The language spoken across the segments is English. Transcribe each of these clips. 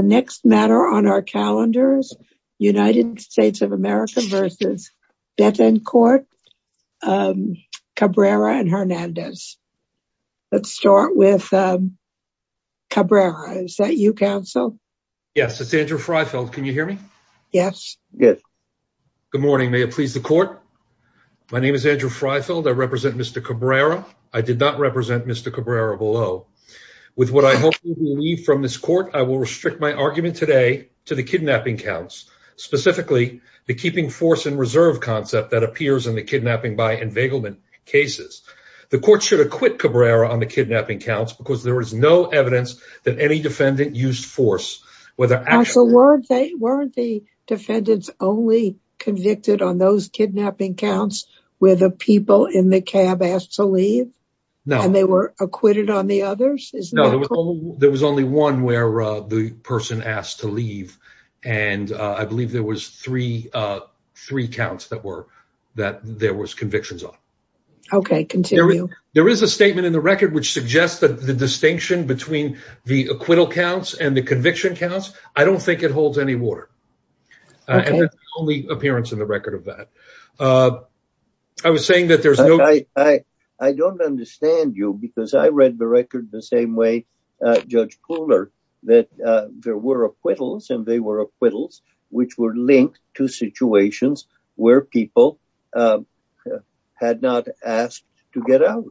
Cabrera and Hernandez. Let's start with Cabrera. Is that you, counsel? Yes, it's Andrew Freifeld. Can you hear me? Yes. Good morning. May it please the court? My name is Andrew Freifeld. I represent Mr. Cabrera. I did not represent Mr. Cabrera below. With what I hope you believe from this court, I will restrict my argument today to the kidnapping counts, specifically the keeping force in reserve concept that appears in the kidnapping by enveiglement cases. The court should acquit Cabrera on the kidnapping counts because there is no evidence that any defendant used force. Counsel, weren't the defendants only convicted on those kidnapping counts where the people in the cab asked to leave? No. And they were acquitted on the others? No, there was only one where the person asked to leave and I believe there was three counts that there was convictions on. Okay, continue. There is a statement in the record which suggests that the distinction between the acquittal counts and the conviction counts, I don't think it holds any water. Okay. And that's the only appearance in the record of that. I was saying that there's no... I don't understand you because I read the record the same way Judge Kuhler, that there were acquittals and they were acquittals which were linked to situations where people had not asked to get out.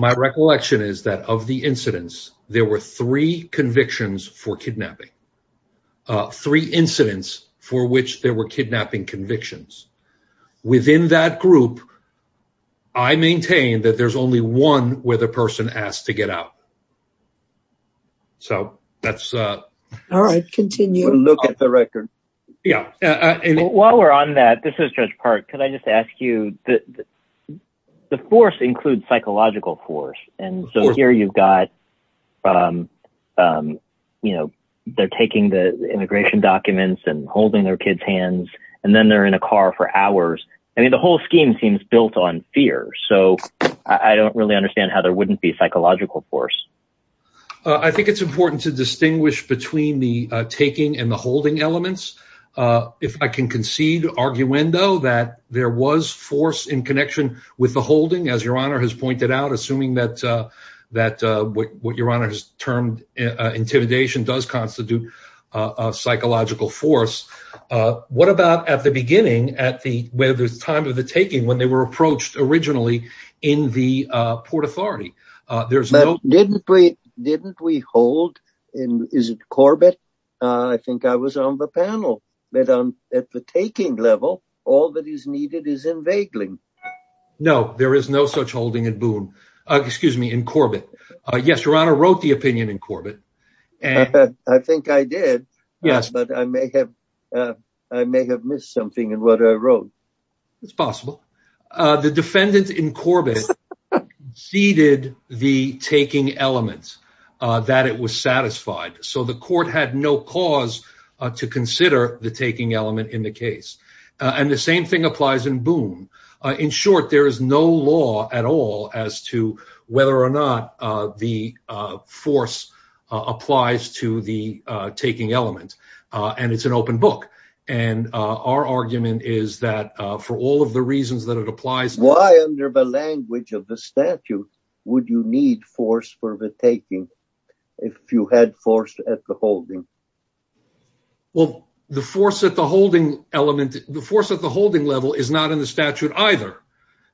My recollection is that of the incidents, there were three convictions for kidnapping. Three incidents for which there were kidnapping convictions. Within that group, I maintain that there's only one where the person asked to get out. So, that's... All right, continue. We'll look at the record. While we're on that, this is Judge Park. Could I just ask you, the force includes psychological force. And so here you've got, you know, they're taking the immigration documents and holding their kids' hands and then they're in a car for hours. I mean, the whole scheme seems built on fear. So, I don't really understand how there wouldn't be psychological force. I think it's important to distinguish between the taking and the holding elements. If I can concede arguendo that there was force in connection with the holding, as Your Honor has pointed out, assuming that what Your Honor has termed intimidation does constitute psychological force. What about at the beginning, at the time of the taking, when they were approached originally in the Port Authority? Didn't we hold, is it Corbett? I think I was on the panel. At the taking level, all that is needed is invading. No, there is no such holding at Boone. Excuse me, in Corbett. Yes, Your Honor wrote the opinion in Corbett. I think I did. Yes. But I may have missed something in what I wrote. It's possible. The defendant in Corbett ceded the taking element that it was satisfied. So, the court had no cause to consider the taking element in the case. And the same thing applies in Boone. In short, there is no law at all as to whether or not the force applies to the taking element. And it's an open book. And our argument is that for all of the reasons that it applies. Why, under the language of the statute, would you need force for the taking if you had force at the holding? Well, the force at the holding element, the force at the holding level is not in the statute either.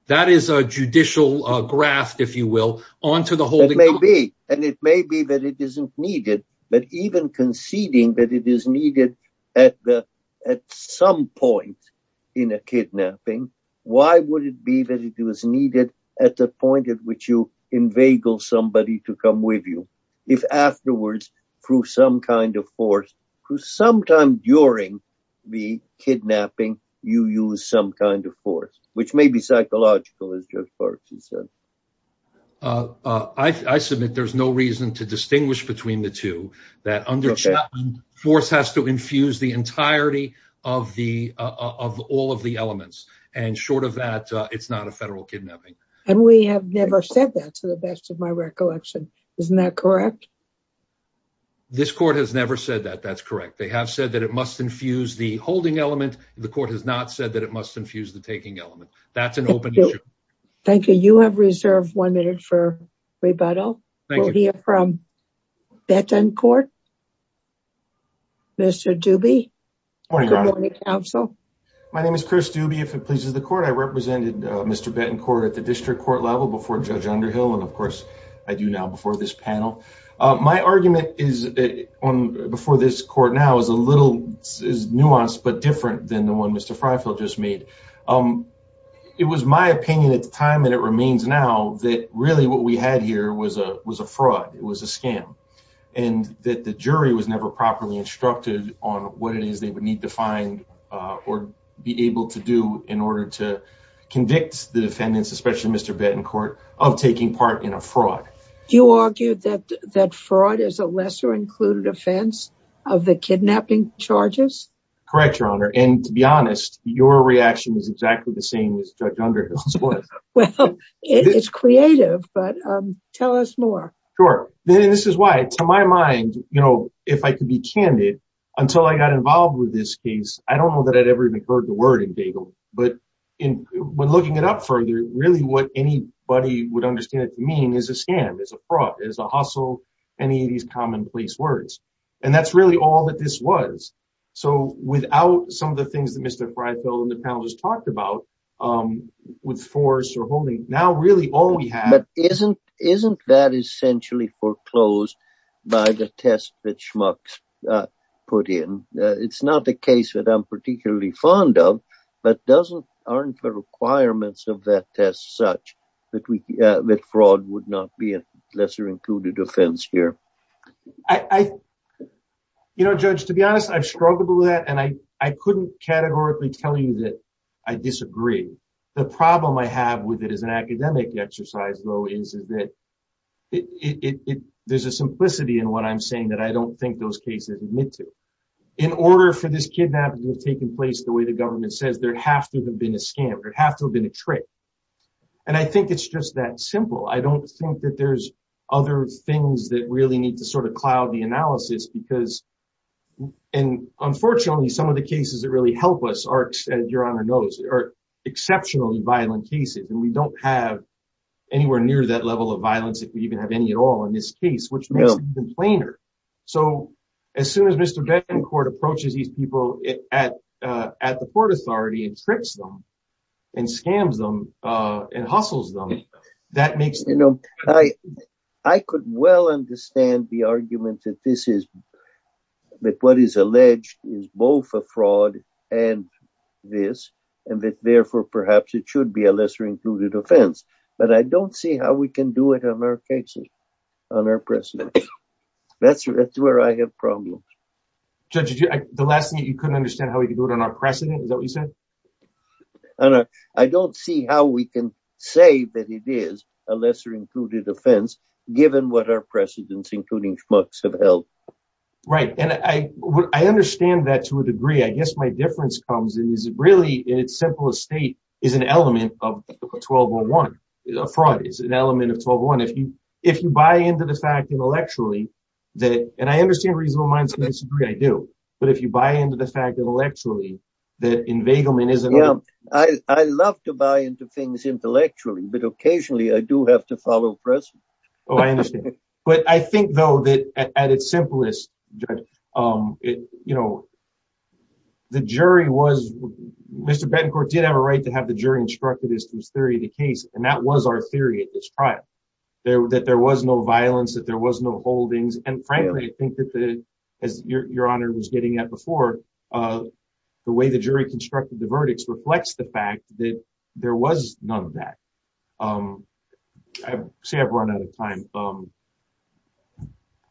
That is a judicial graft, if you will, onto the holding. It may be. And it may be that it isn't needed. But even conceding that it is needed at some point in a kidnapping. Why would it be that it was needed at the point at which you inveigle somebody to come with you? If afterwards, through some kind of force, through sometime during the kidnapping, you use some kind of force. Which may be psychological, as Judge Barksley said. I submit there's no reason to distinguish between the two. That under Chapman, force has to infuse the entirety of all of the elements. And short of that, it's not a federal kidnapping. And we have never said that, to the best of my recollection. Isn't that correct? This court has never said that. That's correct. They have said that it must infuse the holding element. The court has not said that it must infuse the taking element. That's an open issue. Thank you. You have reserved one minute for rebuttal. Thank you. We'll hear from Bettencourt. Mr. Dubey. Good morning, Your Honor. Good morning, counsel. My name is Chris Dubey, if it pleases the court. I represented Mr. Bettencourt at the district court level before Judge Underhill. And, of course, I do now before this panel. My argument before this court now is a little nuanced but different than the one Mr. Freifeld just made. It was my opinion at the time, and it remains now, that really what we had here was a fraud. It was a scam. And that the jury was never properly instructed on what it is they would need to find or be able to do in order to convict the defendants, especially Mr. Bettencourt, of taking part in a fraud. You argued that fraud is a lesser-included offense of the kidnapping charges? Correct, Your Honor. And, to be honest, your reaction is exactly the same as Judge Underhill's was. Well, it's creative, but tell us more. Sure. And this is why. To my mind, you know, if I could be candid, until I got involved with this case, I don't know that I'd ever even heard the word in Bagel. But when looking it up further, really what anybody would understand it to mean is a scam, is a fraud, is a hustle, any of these commonplace words. And that's really all that this was. So without some of the things that Mr. Freitheld and the panel just talked about, with force or holding, now really all we have… But isn't that essentially foreclosed by the test that Schmuck put in? It's not a case that I'm particularly fond of, but aren't the requirements of that test such that fraud would not be a lesser-included offense here? You know, Judge, to be honest, I've struggled with that, and I couldn't categorically tell you that I disagree. The problem I have with it as an academic exercise, though, is that there's a simplicity in what I'm saying that I don't think those cases admit to. In order for this kidnapping to have taken place the way the government says, there has to have been a scam. There has to have been a trick. And I think it's just that simple. I don't think that there's other things that really need to sort of cloud the analysis because… And unfortunately, some of the cases that really help us are, as Your Honor knows, are exceptionally violent cases. And we don't have anywhere near that level of violence if we even have any at all in this case, which makes it even plainer. So, as soon as Mr. Dancourt approaches these people at the court authority and tricks them and scams them and hustles them, that makes… You know, I could well understand the argument that this is – that what is alleged is both a fraud and this, and that, therefore, perhaps it should be a lesser-included offense. But I don't see how we can do it on our cases, on our precedent. That's where I have problems. Judge, the last thing that you couldn't understand how we can do it on our precedent, is that what you said? I don't know. I don't see how we can say that it is a lesser-included offense, given what our precedents, including Schmuck's, have held. Right. And I understand that to a degree. I guess my difference comes in is really, in its simplest state, is an element of 1201. Fraud is an element of 1201. If you buy into the fact intellectually that – and I understand reasonable minds in this degree. I do. But if you buy into the fact intellectually that inveiglement is an element… I love to buy into things intellectually, but occasionally I do have to follow precedent. Oh, I understand. But I think, though, that at its simplest, Judge, the jury was – Mr. Bettencourt did have a right to have the jury instructed as to his theory of the case. And that was our theory at this trial, that there was no violence, that there was no holdings. And frankly, I think that, as Your Honor was getting at before, the way the jury constructed the verdicts reflects the fact that there was none of that. I say I've run out of time.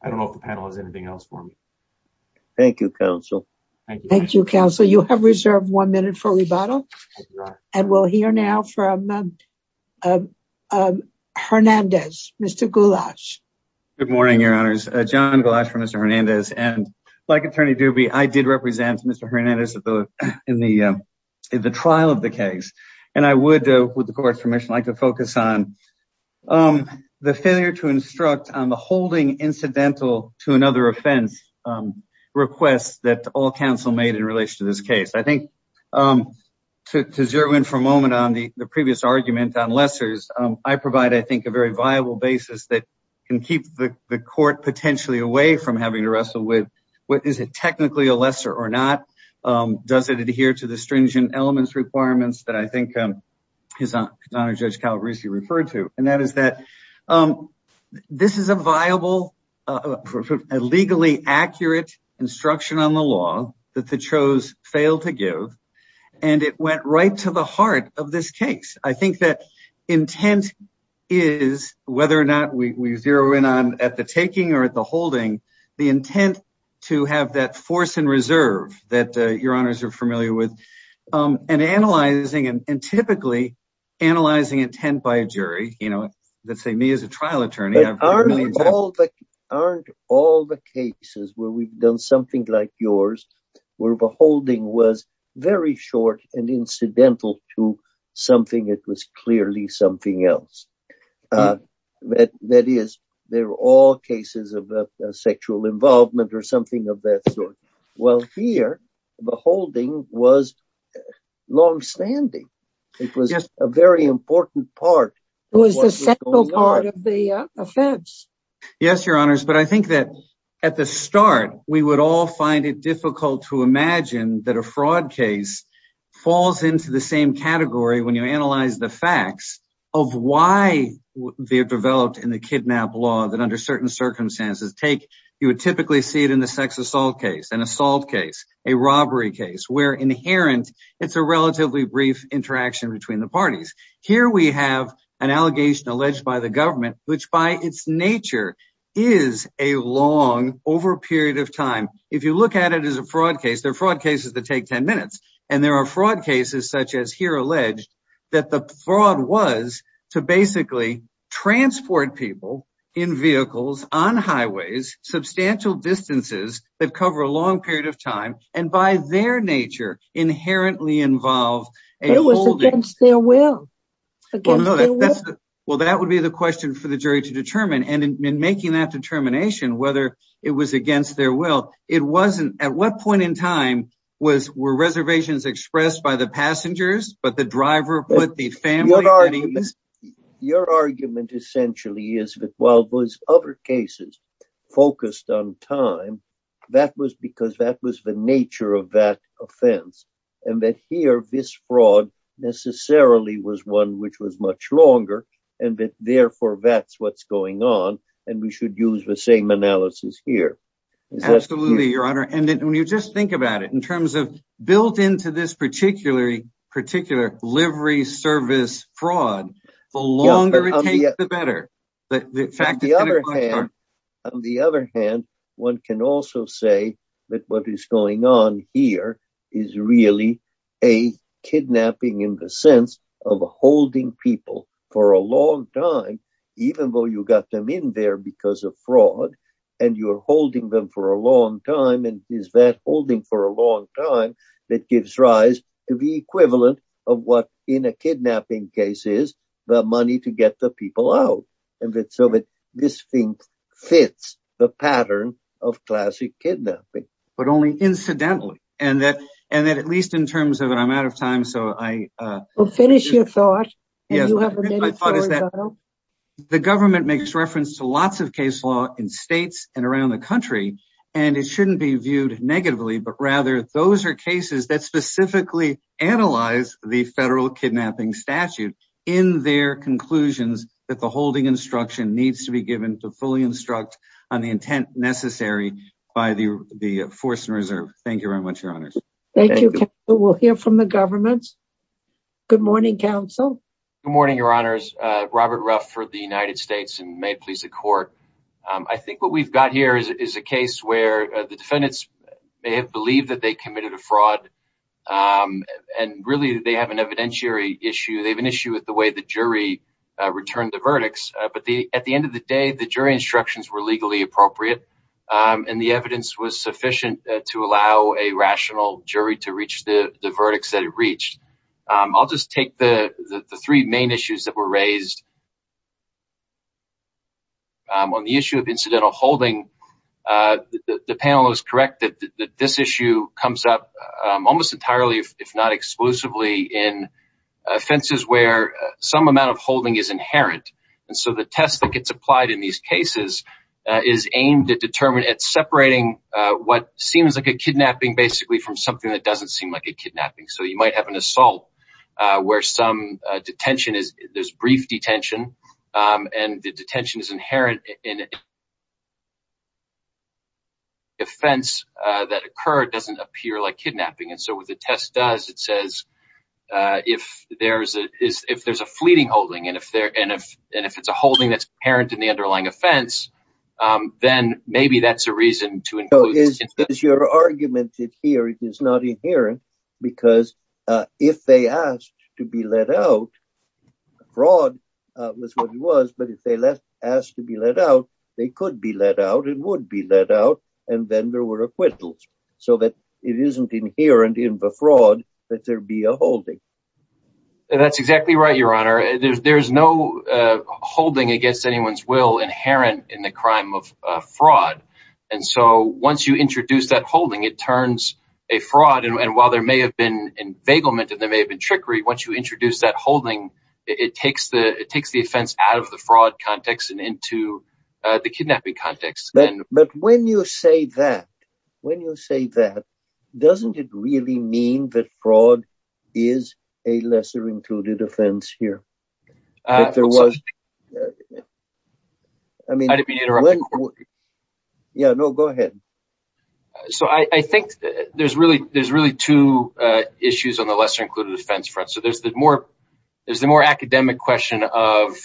I don't know if the panel has anything else for me. Thank you, Counsel. Thank you, Counsel. You have reserved one minute for rebuttal. And we'll hear now from Hernandez, Mr. Goulash. Good morning, Your Honors. John Goulash for Mr. Hernandez. And like Attorney Dubey, I did represent Mr. Hernandez in the trial of the case. And I would, with the court's permission, like to focus on the failure to instruct on the holding incidental to another offense request that all counsel made in relation to this case. I think to zero in for a moment on the previous argument on lessors, I provide, I think, a very viable basis that can keep the court potentially away from having to wrestle with, is it technically a lesser or not? Does it adhere to the stringent elements requirements that I think His Honor Judge Calabresi referred to? And that is that this is a viable, legally accurate instruction on the law that the Chos failed to give. And it went right to the heart of this case. I think that intent is, whether or not we zero in on at the taking or at the holding, the intent to have that force and reserve that Your Honors are familiar with and analyzing and typically analyzing intent by a jury. You know, let's say me as a trial attorney. Aren't all the cases where we've done something like yours, where the holding was very short and incidental to something, it was clearly something else. That is, they're all cases of sexual involvement or something of that sort. Well, here, the holding was longstanding. It was just a very important part. It was the central part of the offense. Yes, Your Honors. But I think that at the start, we would all find it difficult to imagine that a fraud case falls into the same category when you analyze the facts of why they're developed in the kidnap law that under certain circumstances take. You would typically see it in the sex assault case, an assault case, a robbery case where inherent. It's a relatively brief interaction between the parties. Here we have an allegation alleged by the government, which by its nature is a long over a period of time. If you look at it as a fraud case, they're fraud cases that take 10 minutes. And there are fraud cases such as here alleged that the fraud was to basically transport people in vehicles on highways, substantial distances that cover a long period of time. And by their nature inherently involved, it was against their will. Well, that would be the question for the jury to determine. And in making that determination, whether it was against their will, it wasn't. At what point in time was were reservations expressed by the passengers? Your argument essentially is that while those other cases focused on time, that was because that was the nature of that offense. And that here this fraud necessarily was one which was much longer. And therefore, that's what's going on. And we should use the same analysis here. Absolutely, Your Honor. And when you just think about it in terms of built into this particular particular livery service fraud, the longer it takes, the better. On the other hand, one can also say that what is going on here is really a kidnapping in the sense of holding people for a long time, even though you got them in there because of fraud and you're holding them for a long time. And is that holding for a long time that gives rise to the equivalent of what in a kidnapping case is the money to get the people out of it so that this thing fits the pattern of classic kidnapping. But only incidentally, and that and that at least in terms of it, I'm out of time. Finish your thought. The government makes reference to lots of case law in states and around the country, and it shouldn't be viewed negatively. But rather, those are cases that specifically analyze the federal kidnapping statute in their conclusions that the holding instruction needs to be given to fully instruct on the intent necessary by the force and reserve. Thank you. We'll hear from the government. Good morning, counsel. Good morning, Your Honors. Robert Ruff for the United States and may it please the court. I think what we've got here is a case where the defendants may have believed that they committed a fraud. And really, they have an evidentiary issue. They have an issue with the way the jury returned the verdicts. But at the end of the day, the jury instructions were legally appropriate and the evidence was sufficient to allow a rational jury to reach the verdicts that it reached. I'll just take the three main issues that were raised. On the issue of incidental holding, the panel is correct that this issue comes up almost entirely, if not exclusively, in offenses where some amount of holding is inherent. And so the test that gets applied in these cases is aimed at separating what seems like a kidnapping basically from something that doesn't seem like a kidnapping. So you might have an assault where some detention is, there's brief detention and the detention is inherent in it. The offense that occurred doesn't appear like kidnapping. And so what the test does, it says, if there's a fleeting holding and if it's a holding that's inherent in the underlying offense, then maybe that's a reason to include. Your argument here is it's not inherent because if they asked to be let out, fraud was what it was. But if they asked to be let out, they could be let out and would be let out. And then there were acquittals so that it isn't inherent in the fraud that there be a holding. That's exactly right, Your Honor. There's no holding against anyone's will inherent in the crime of fraud. And so once you introduce that holding, it turns a fraud. And while there may have been enveiglement and there may have been trickery, once you introduce that holding, it takes the offense out of the fraud context and into the kidnapping context. But when you say that, when you say that, doesn't it really mean that fraud is a lesser included offense here? There was. I mean. Yeah, no, go ahead. So I think there's really there's really two issues on the lesser included offense front. So there's the more there's the more academic question of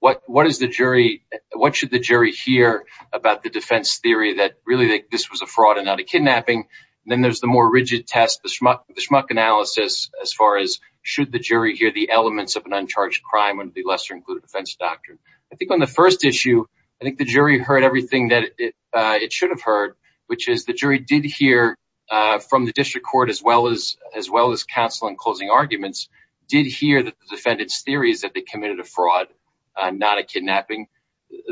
what what is the jury? What should the jury hear about the defense theory that really this was a fraud and not a kidnapping? Then there's the more rigid test, the schmuck analysis as far as should the jury hear the elements of an uncharged crime and the lesser included offense doctrine? I think on the first issue, I think the jury heard everything that it should have heard, which is the jury did hear from the district court as well as as well as counsel in closing arguments did hear the defendant's theories that they committed a fraud, not a kidnapping.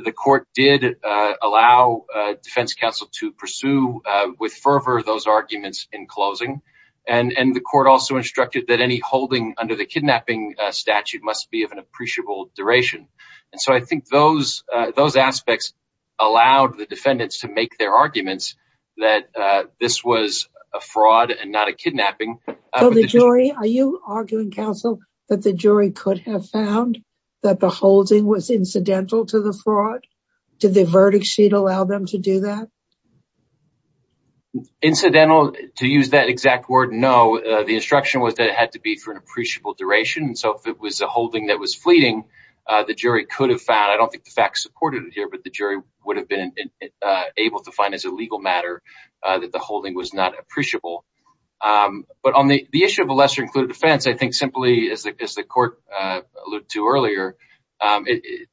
The court did allow defense counsel to pursue with fervor those arguments in closing. And the court also instructed that any holding under the kidnapping statute must be of an appreciable duration. And so I think those those aspects allowed the defendants to make their arguments that this was a fraud and not a kidnapping of the jury. Are you arguing, counsel, that the jury could have found that the holding was incidental to the fraud? Did the verdict sheet allow them to do that? Incidental to use that exact word? No. The instruction was that it had to be for an appreciable duration. And so if it was a holding that was fleeting, the jury could have found I don't think the facts supported it here, but the jury would have been able to find as a legal matter that the holding was not appreciable. But on the issue of a lesser included offense, I think simply as the court alluded to earlier,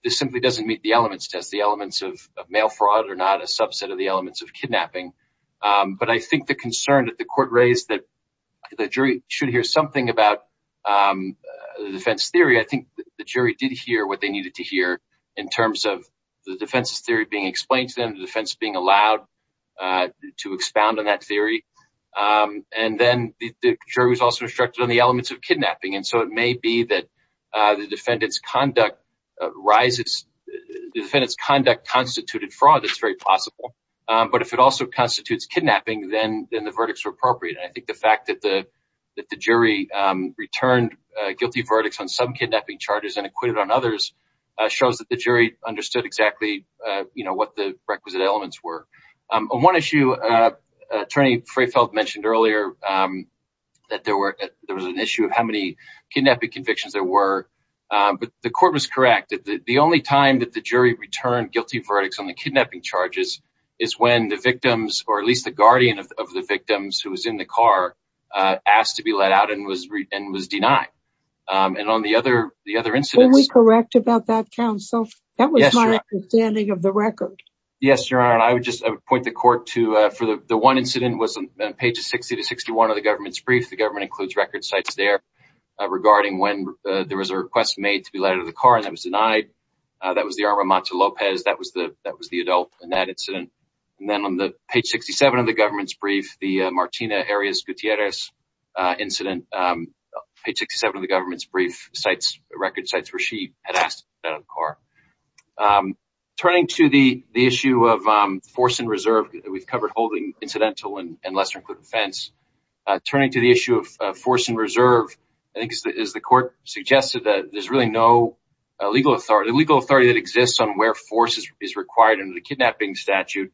this simply doesn't meet the elements test, the elements of mail fraud or not a subset of the elements of kidnapping. But I think the concern that the court raised that the jury should hear something about the defense theory, I think the jury did hear what they needed to hear in terms of the defense's theory being explained to them, the defense being allowed to expound on that theory. And then the jury was also instructed on the elements of kidnapping. And so it may be that the defendant's conduct rises. The defendant's conduct constituted fraud. It's very possible. But if it also constitutes kidnapping, then the verdicts are appropriate. And I think the fact that the that the jury returned a guilty verdict on some kidnapping charges and acquitted on others shows that the jury understood exactly what the requisite elements were. On one issue, attorney Frefeld mentioned earlier that there were there was an issue of how many kidnapping convictions there were. But the court was correct that the only time that the jury returned guilty verdicts on the kidnapping charges is when the victims, or at least the guardian of the victims who was in the car, asked to be let out and was and was denied. And on the other, the other incidents. Are we correct about that, counsel? That was my understanding of the record. Yes, Your Honor. I would just point the court to for the one incident was on pages 60 to 61 of the government's brief. The government includes record sites there regarding when there was a request made to be let out of the car and that was denied. That was the Arma Mata Lopez. That was the that was the adult in that incident. And then on the page 67 of the government's brief, the Martina Arias Gutierrez incident page 67 of the government's brief sites, record sites where she had asked that car turning to the issue of force and reserve. We've covered holding incidental and lesser included offense turning to the issue of force and reserve. I think as the court suggested that there's really no legal authority, the legal authority that exists on where force is required in the kidnapping statute,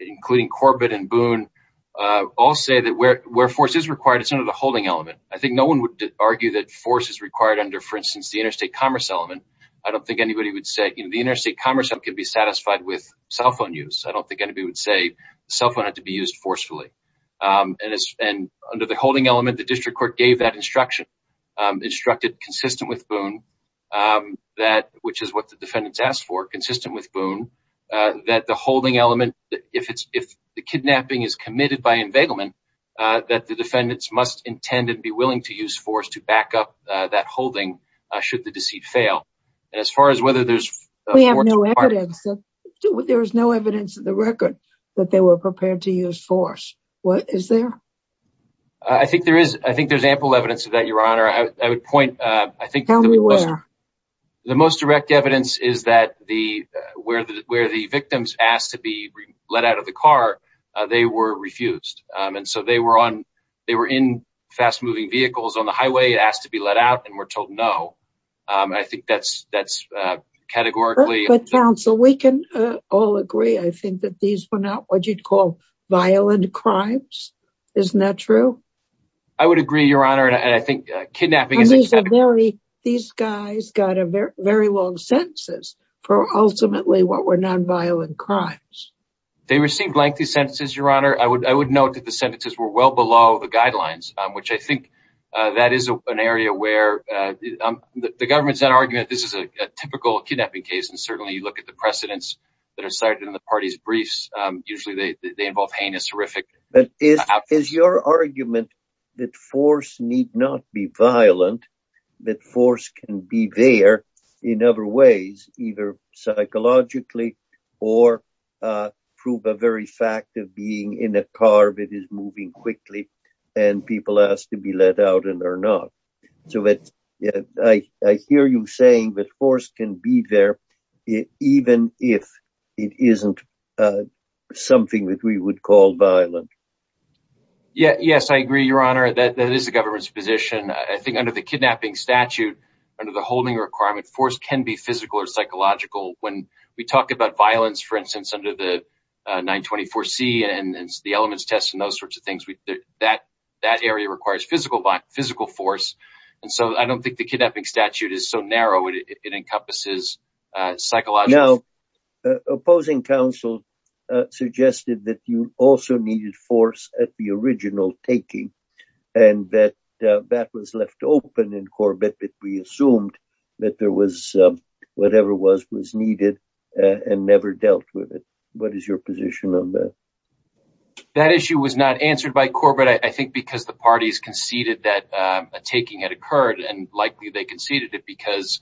including Corbett and Boone all say that where where force is required, it's under the holding element. I think no one would argue that force is required under, for instance, the interstate commerce element. I don't think anybody would say the interstate commerce can be satisfied with cell phone use. I don't think anybody would say cell phone had to be used forcefully. And under the holding element, the district court gave that instruction, instructed, consistent with Boone, that which is what the defendants asked for, consistent with Boone, that the holding element, if it's if the kidnapping is committed by embezzlement, that the defendants must intend to be willing to use force to back up that holding. Should the deceit fail. And as far as whether there's we have no evidence, there is no evidence in the record that they were prepared to use force. What is there? I think there is. I think there's ample evidence of that, Your Honor. I would point. I think the most direct evidence is that the where the where the victims asked to be let out of the car, they were refused. And so they were on they were in fast moving vehicles on the highway, asked to be let out and were told no. I think that's that's categorically. But counsel, we can all agree. I think that these were not what you'd call violent crimes. Isn't that true? I would agree, Your Honor. And I think kidnapping is very. These guys got a very long sentences for ultimately what were nonviolent crimes. They received lengthy sentences, Your Honor. I would I would note that the sentences were well below the guidelines, which I think that is an area where the government's that argument. This is a typical kidnapping case. And certainly you look at the precedents that are cited in the party's briefs. Usually they involve heinous, horrific. Is your argument that force need not be violent, that force can be there in other ways, either psychologically or prove a very fact of being in a car that is moving quickly and people asked to be let out and they're not. So I hear you saying that force can be there even if it isn't something that we would call violent. Yes, I agree, Your Honor, that that is the government's position. I think under the kidnapping statute, under the holding requirement, force can be physical or psychological. When we talk about violence, for instance, under the 924 C and the elements test and those sorts of things, that that area requires physical, physical force. And so I don't think the kidnapping statute is so narrow. It encompasses psychological. Now, opposing counsel suggested that you also needed force at the original taking and that that was left open in Corbett. We assumed that there was whatever was was needed and never dealt with it. What is your position on that? That issue was not answered by Corbett, I think, because the parties conceded that a taking had occurred and likely they conceded it because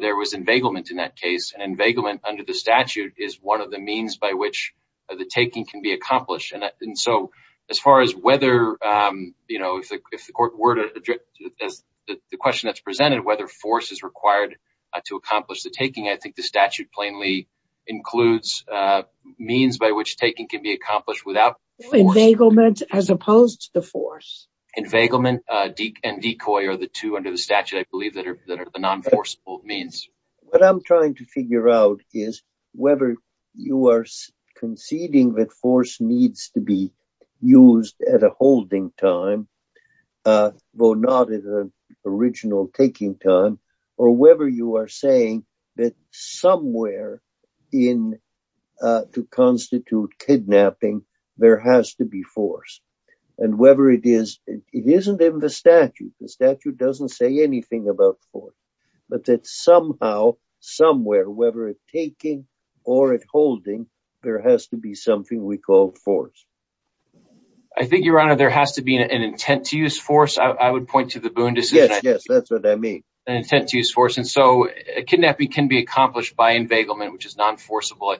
there was inveiglement in that case. And inveiglement under the statute is one of the means by which the taking can be accomplished. And so as far as whether, you know, if the court were to address the question that's presented, whether force is required to accomplish the taking, I think the statute plainly includes means by which taking can be accomplished without. Inveiglement as opposed to force. Inveiglement and decoy are the two under the statute, I believe, that are the non-forceful means. What I'm trying to figure out is whether you are conceding that force needs to be used at a holding time, though not at an original taking time, or whether you are saying that somewhere in to constitute kidnapping, there has to be force. And whether it is, it isn't in the statute, the statute doesn't say anything about force, but that somehow, somewhere, whether it's taking or at holding, there has to be something we call force. I think, Your Honor, there has to be an intent to use force. I would point to the Boone decision. Yes, yes, that's what I mean. An intent to use force. And so a kidnapping can be accomplished by inveiglement, which is non-forceable.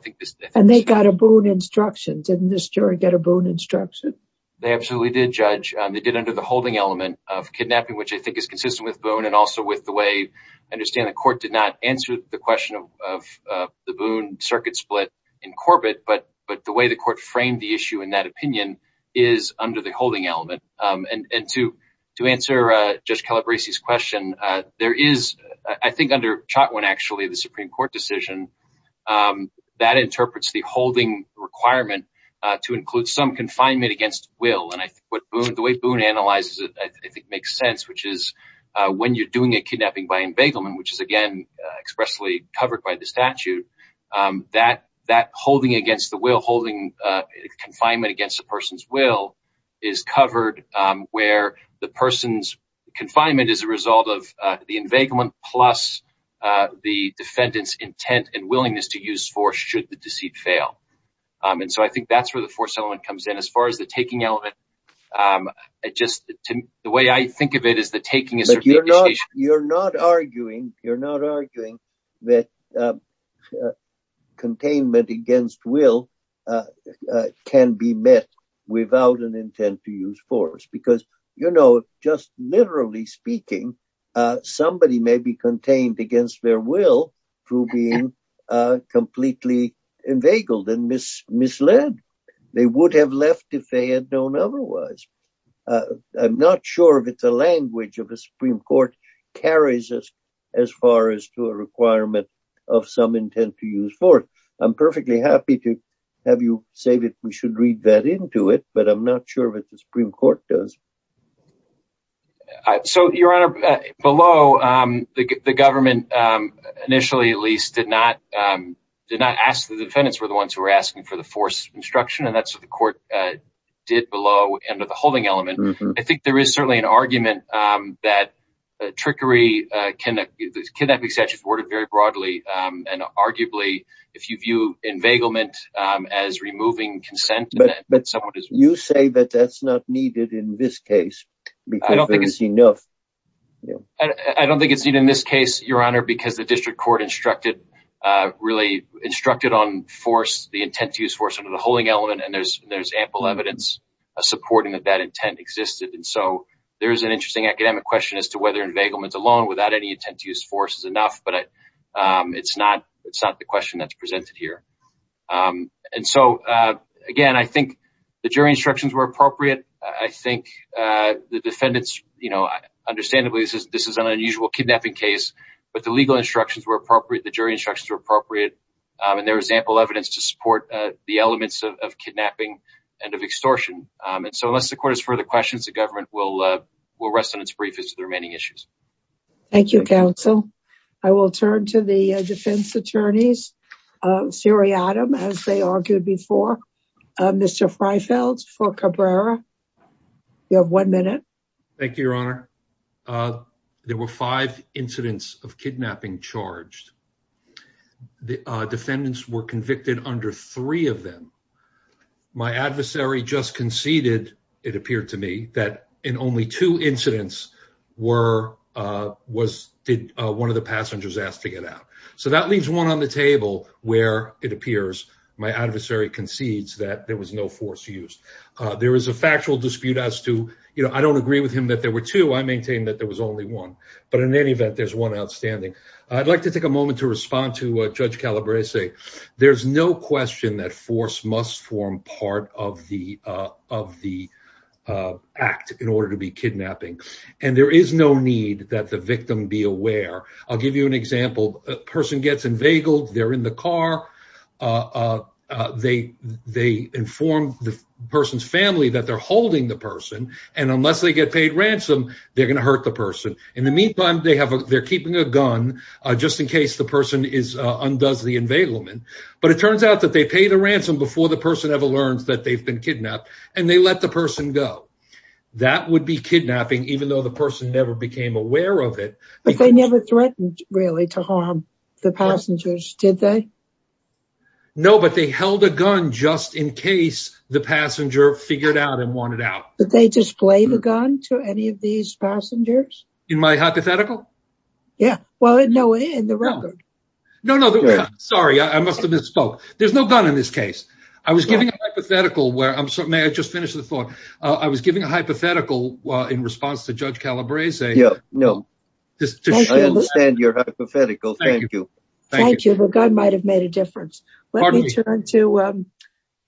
And they got a Boone instruction, didn't the jury get a Boone instruction? They absolutely did, Judge. They did under the holding element of kidnapping, which I think is consistent with Boone, and also with the way, I understand the court did not answer the question of the Boone circuit split in Corbett, but the way the court framed the issue in that opinion is under the holding element. And to answer Judge Calabresi's question, there is, I think, under Chotwin, actually, the Supreme Court decision, that interprets the holding requirement to include some confinement against will. And I think the way Boone analyzes it, I think, makes sense, which is when you're doing a kidnapping by inveiglement, which is, again, expressly covered by the statute, that holding against the will, holding confinement against a person's will is covered where the person's confinement is a result of the inveiglement, plus the defendant's intent and willingness to use force should the deceit fail. And so I think that's where the force element comes in as far as the taking element. The way I think of it is the taking is... But you're not arguing that containment against will can be met without an intent to use force, because, you know, just literally speaking, somebody may be contained against their will through being completely inveigled and misled. They would have left if they had known otherwise. I'm not sure that the language of the Supreme Court carries us as far as to a requirement of some intent to use force. I'm perfectly happy to have you say that we should read that into it, but I'm not sure that the Supreme Court does. So, Your Honor, below, the government initially, at least, did not ask the defendants, were the ones who were asking for the force instruction, and that's what the court did below under the holding element. I think there is certainly an argument that trickery, kidnapping statute is worded very broadly. And arguably, if you view inveiglement as removing consent... You say that that's not needed in this case. I don't think it's enough. I don't think it's needed in this case, Your Honor, because the district court instructed on force, the intent to use force under the holding element, and there's ample evidence supporting that that intent existed. And so there is an interesting academic question as to whether inveiglement alone without any intent to use force is enough, but it's not the question that's presented here. And so, again, I think the jury instructions were appropriate. I think the defendants, you know, understandably, this is an unusual kidnapping case, but the legal instructions were appropriate, the jury instructions were appropriate, and there is ample evidence to support the elements of kidnapping and of extortion. And so unless the court has further questions, the government will rest on its brief as to the remaining issues. Thank you, counsel. I will turn to the defense attorneys. Siri Adam, as they argued before. Mr. Freifeld for Cabrera. You have one minute. Thank you, Your Honor. There were five incidents of kidnapping charged. The defendants were convicted under three of them. My adversary just conceded, it appeared to me, that in only two incidents did one of the passengers ask to get out. So that leaves one on the table where it appears my adversary concedes that there was no force used. There is a factual dispute as to, you know, I don't agree with him that there were two. I maintain that there was only one. But in any event, there's one outstanding. I'd like to take a moment to respond to Judge Calabrese. There's no question that force must form part of the act in order to be kidnapping. And there is no need that the victim be aware. I'll give you an example. A person gets inveigled. They're in the car. They inform the person's family that they're holding the person. And unless they get paid ransom, they're going to hurt the person. In the meantime, they're keeping a gun just in case the person undoes the inveiglement. But it turns out that they pay the ransom before the person ever learns that they've been kidnapped. And they let the person go. That would be kidnapping, even though the person never became aware of it. But they never threatened, really, to harm the passengers, did they? No, but they held a gun just in case the passenger figured out and wanted out. Did they display the gun to any of these passengers? In my hypothetical? Yeah, well, no, in the record. No, no. Sorry. I must have misspoke. There's no gun in this case. I was giving a hypothetical where I'm sorry. May I just finish the thought? I was giving a hypothetical in response to Judge Calabrese. Yeah, no. I understand your hypothetical. Thank you. Thank you. The gun might have made a difference. Pardon me. Let me turn to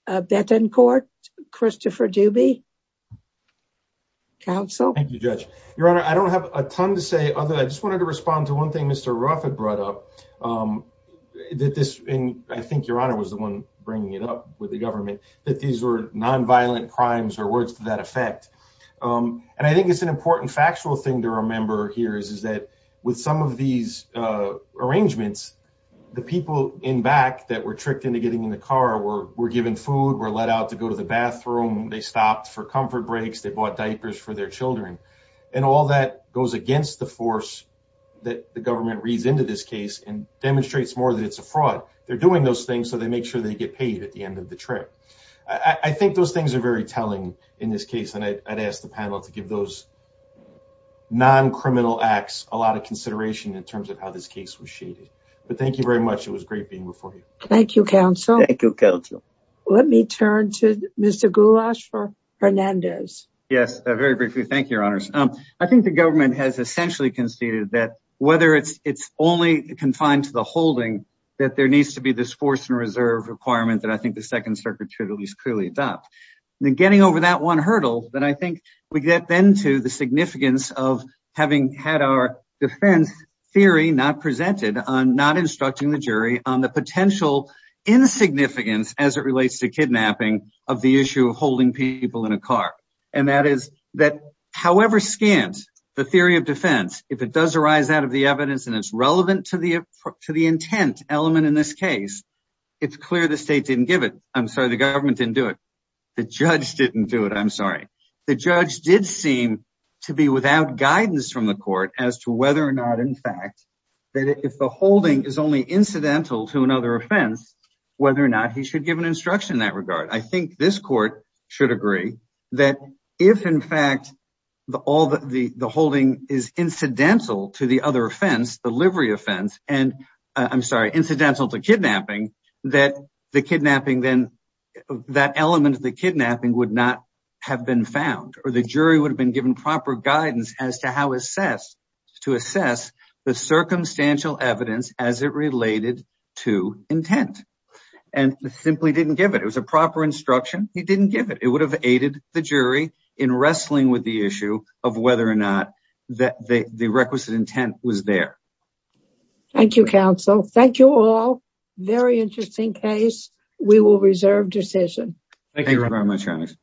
Betancourt, Christopher Dubie. Counsel? Thank you, Judge. Your Honor, I don't have a ton to say. I just wanted to respond to one thing Mr. Ruffett brought up. I think Your Honor was the one bringing it up with the government, that these were nonviolent crimes or words to that effect. And I think it's an important factual thing to remember here is that with some of these arrangements, the people in back that were tricked into getting in the car were given food, were let out to go to the bathroom. They stopped for comfort breaks. They bought diapers for their children. And all that goes against the force that the government reads into this case and demonstrates more that it's a fraud. They're doing those things so they make sure they get paid at the end of the trip. I think those things are very telling in this case. And I'd ask the panel to give those non-criminal acts a lot of consideration in terms of how this case was shaded. But thank you very much. It was great being before you. Thank you, Counsel. Thank you, Counsel. Let me turn to Mr. Gulash for Hernandez. Yes, very briefly. Thank you, Your Honors. I think the government has essentially conceded that whether it's only confined to the holding, that there needs to be this force and reserve requirement that I think the Second Circuit should at least clearly adopt. In getting over that one hurdle, then I think we get then to the significance of having had our defense theory not presented on not instructing the jury on the potential insignificance as it relates to kidnapping of the issue of holding people in a car. And that is that however scant the theory of defense, if it does arise out of the evidence and it's relevant to the intent element in this case, it's clear the state didn't give it. I'm sorry, the government didn't do it. The judge didn't do it. I'm sorry. The judge did seem to be without guidance from the court as to whether or not, in fact, that if the holding is only incidental to another offense, whether or not he should give an instruction in that regard. I think this court should agree that if, in fact, the holding is incidental to the other offense, the livery offense, and I'm sorry, incidental to kidnapping, then that element of the kidnapping would not have been found. Or the jury would have been given proper guidance as to how to assess the circumstantial evidence as it related to intent. And simply didn't give it. It was a proper instruction. He didn't give it. It would have aided the jury in wrestling with the issue of whether or not the requisite intent was there. Thank you, counsel. Thank you all. Very interesting case. We will reserve decision. Thank you very much.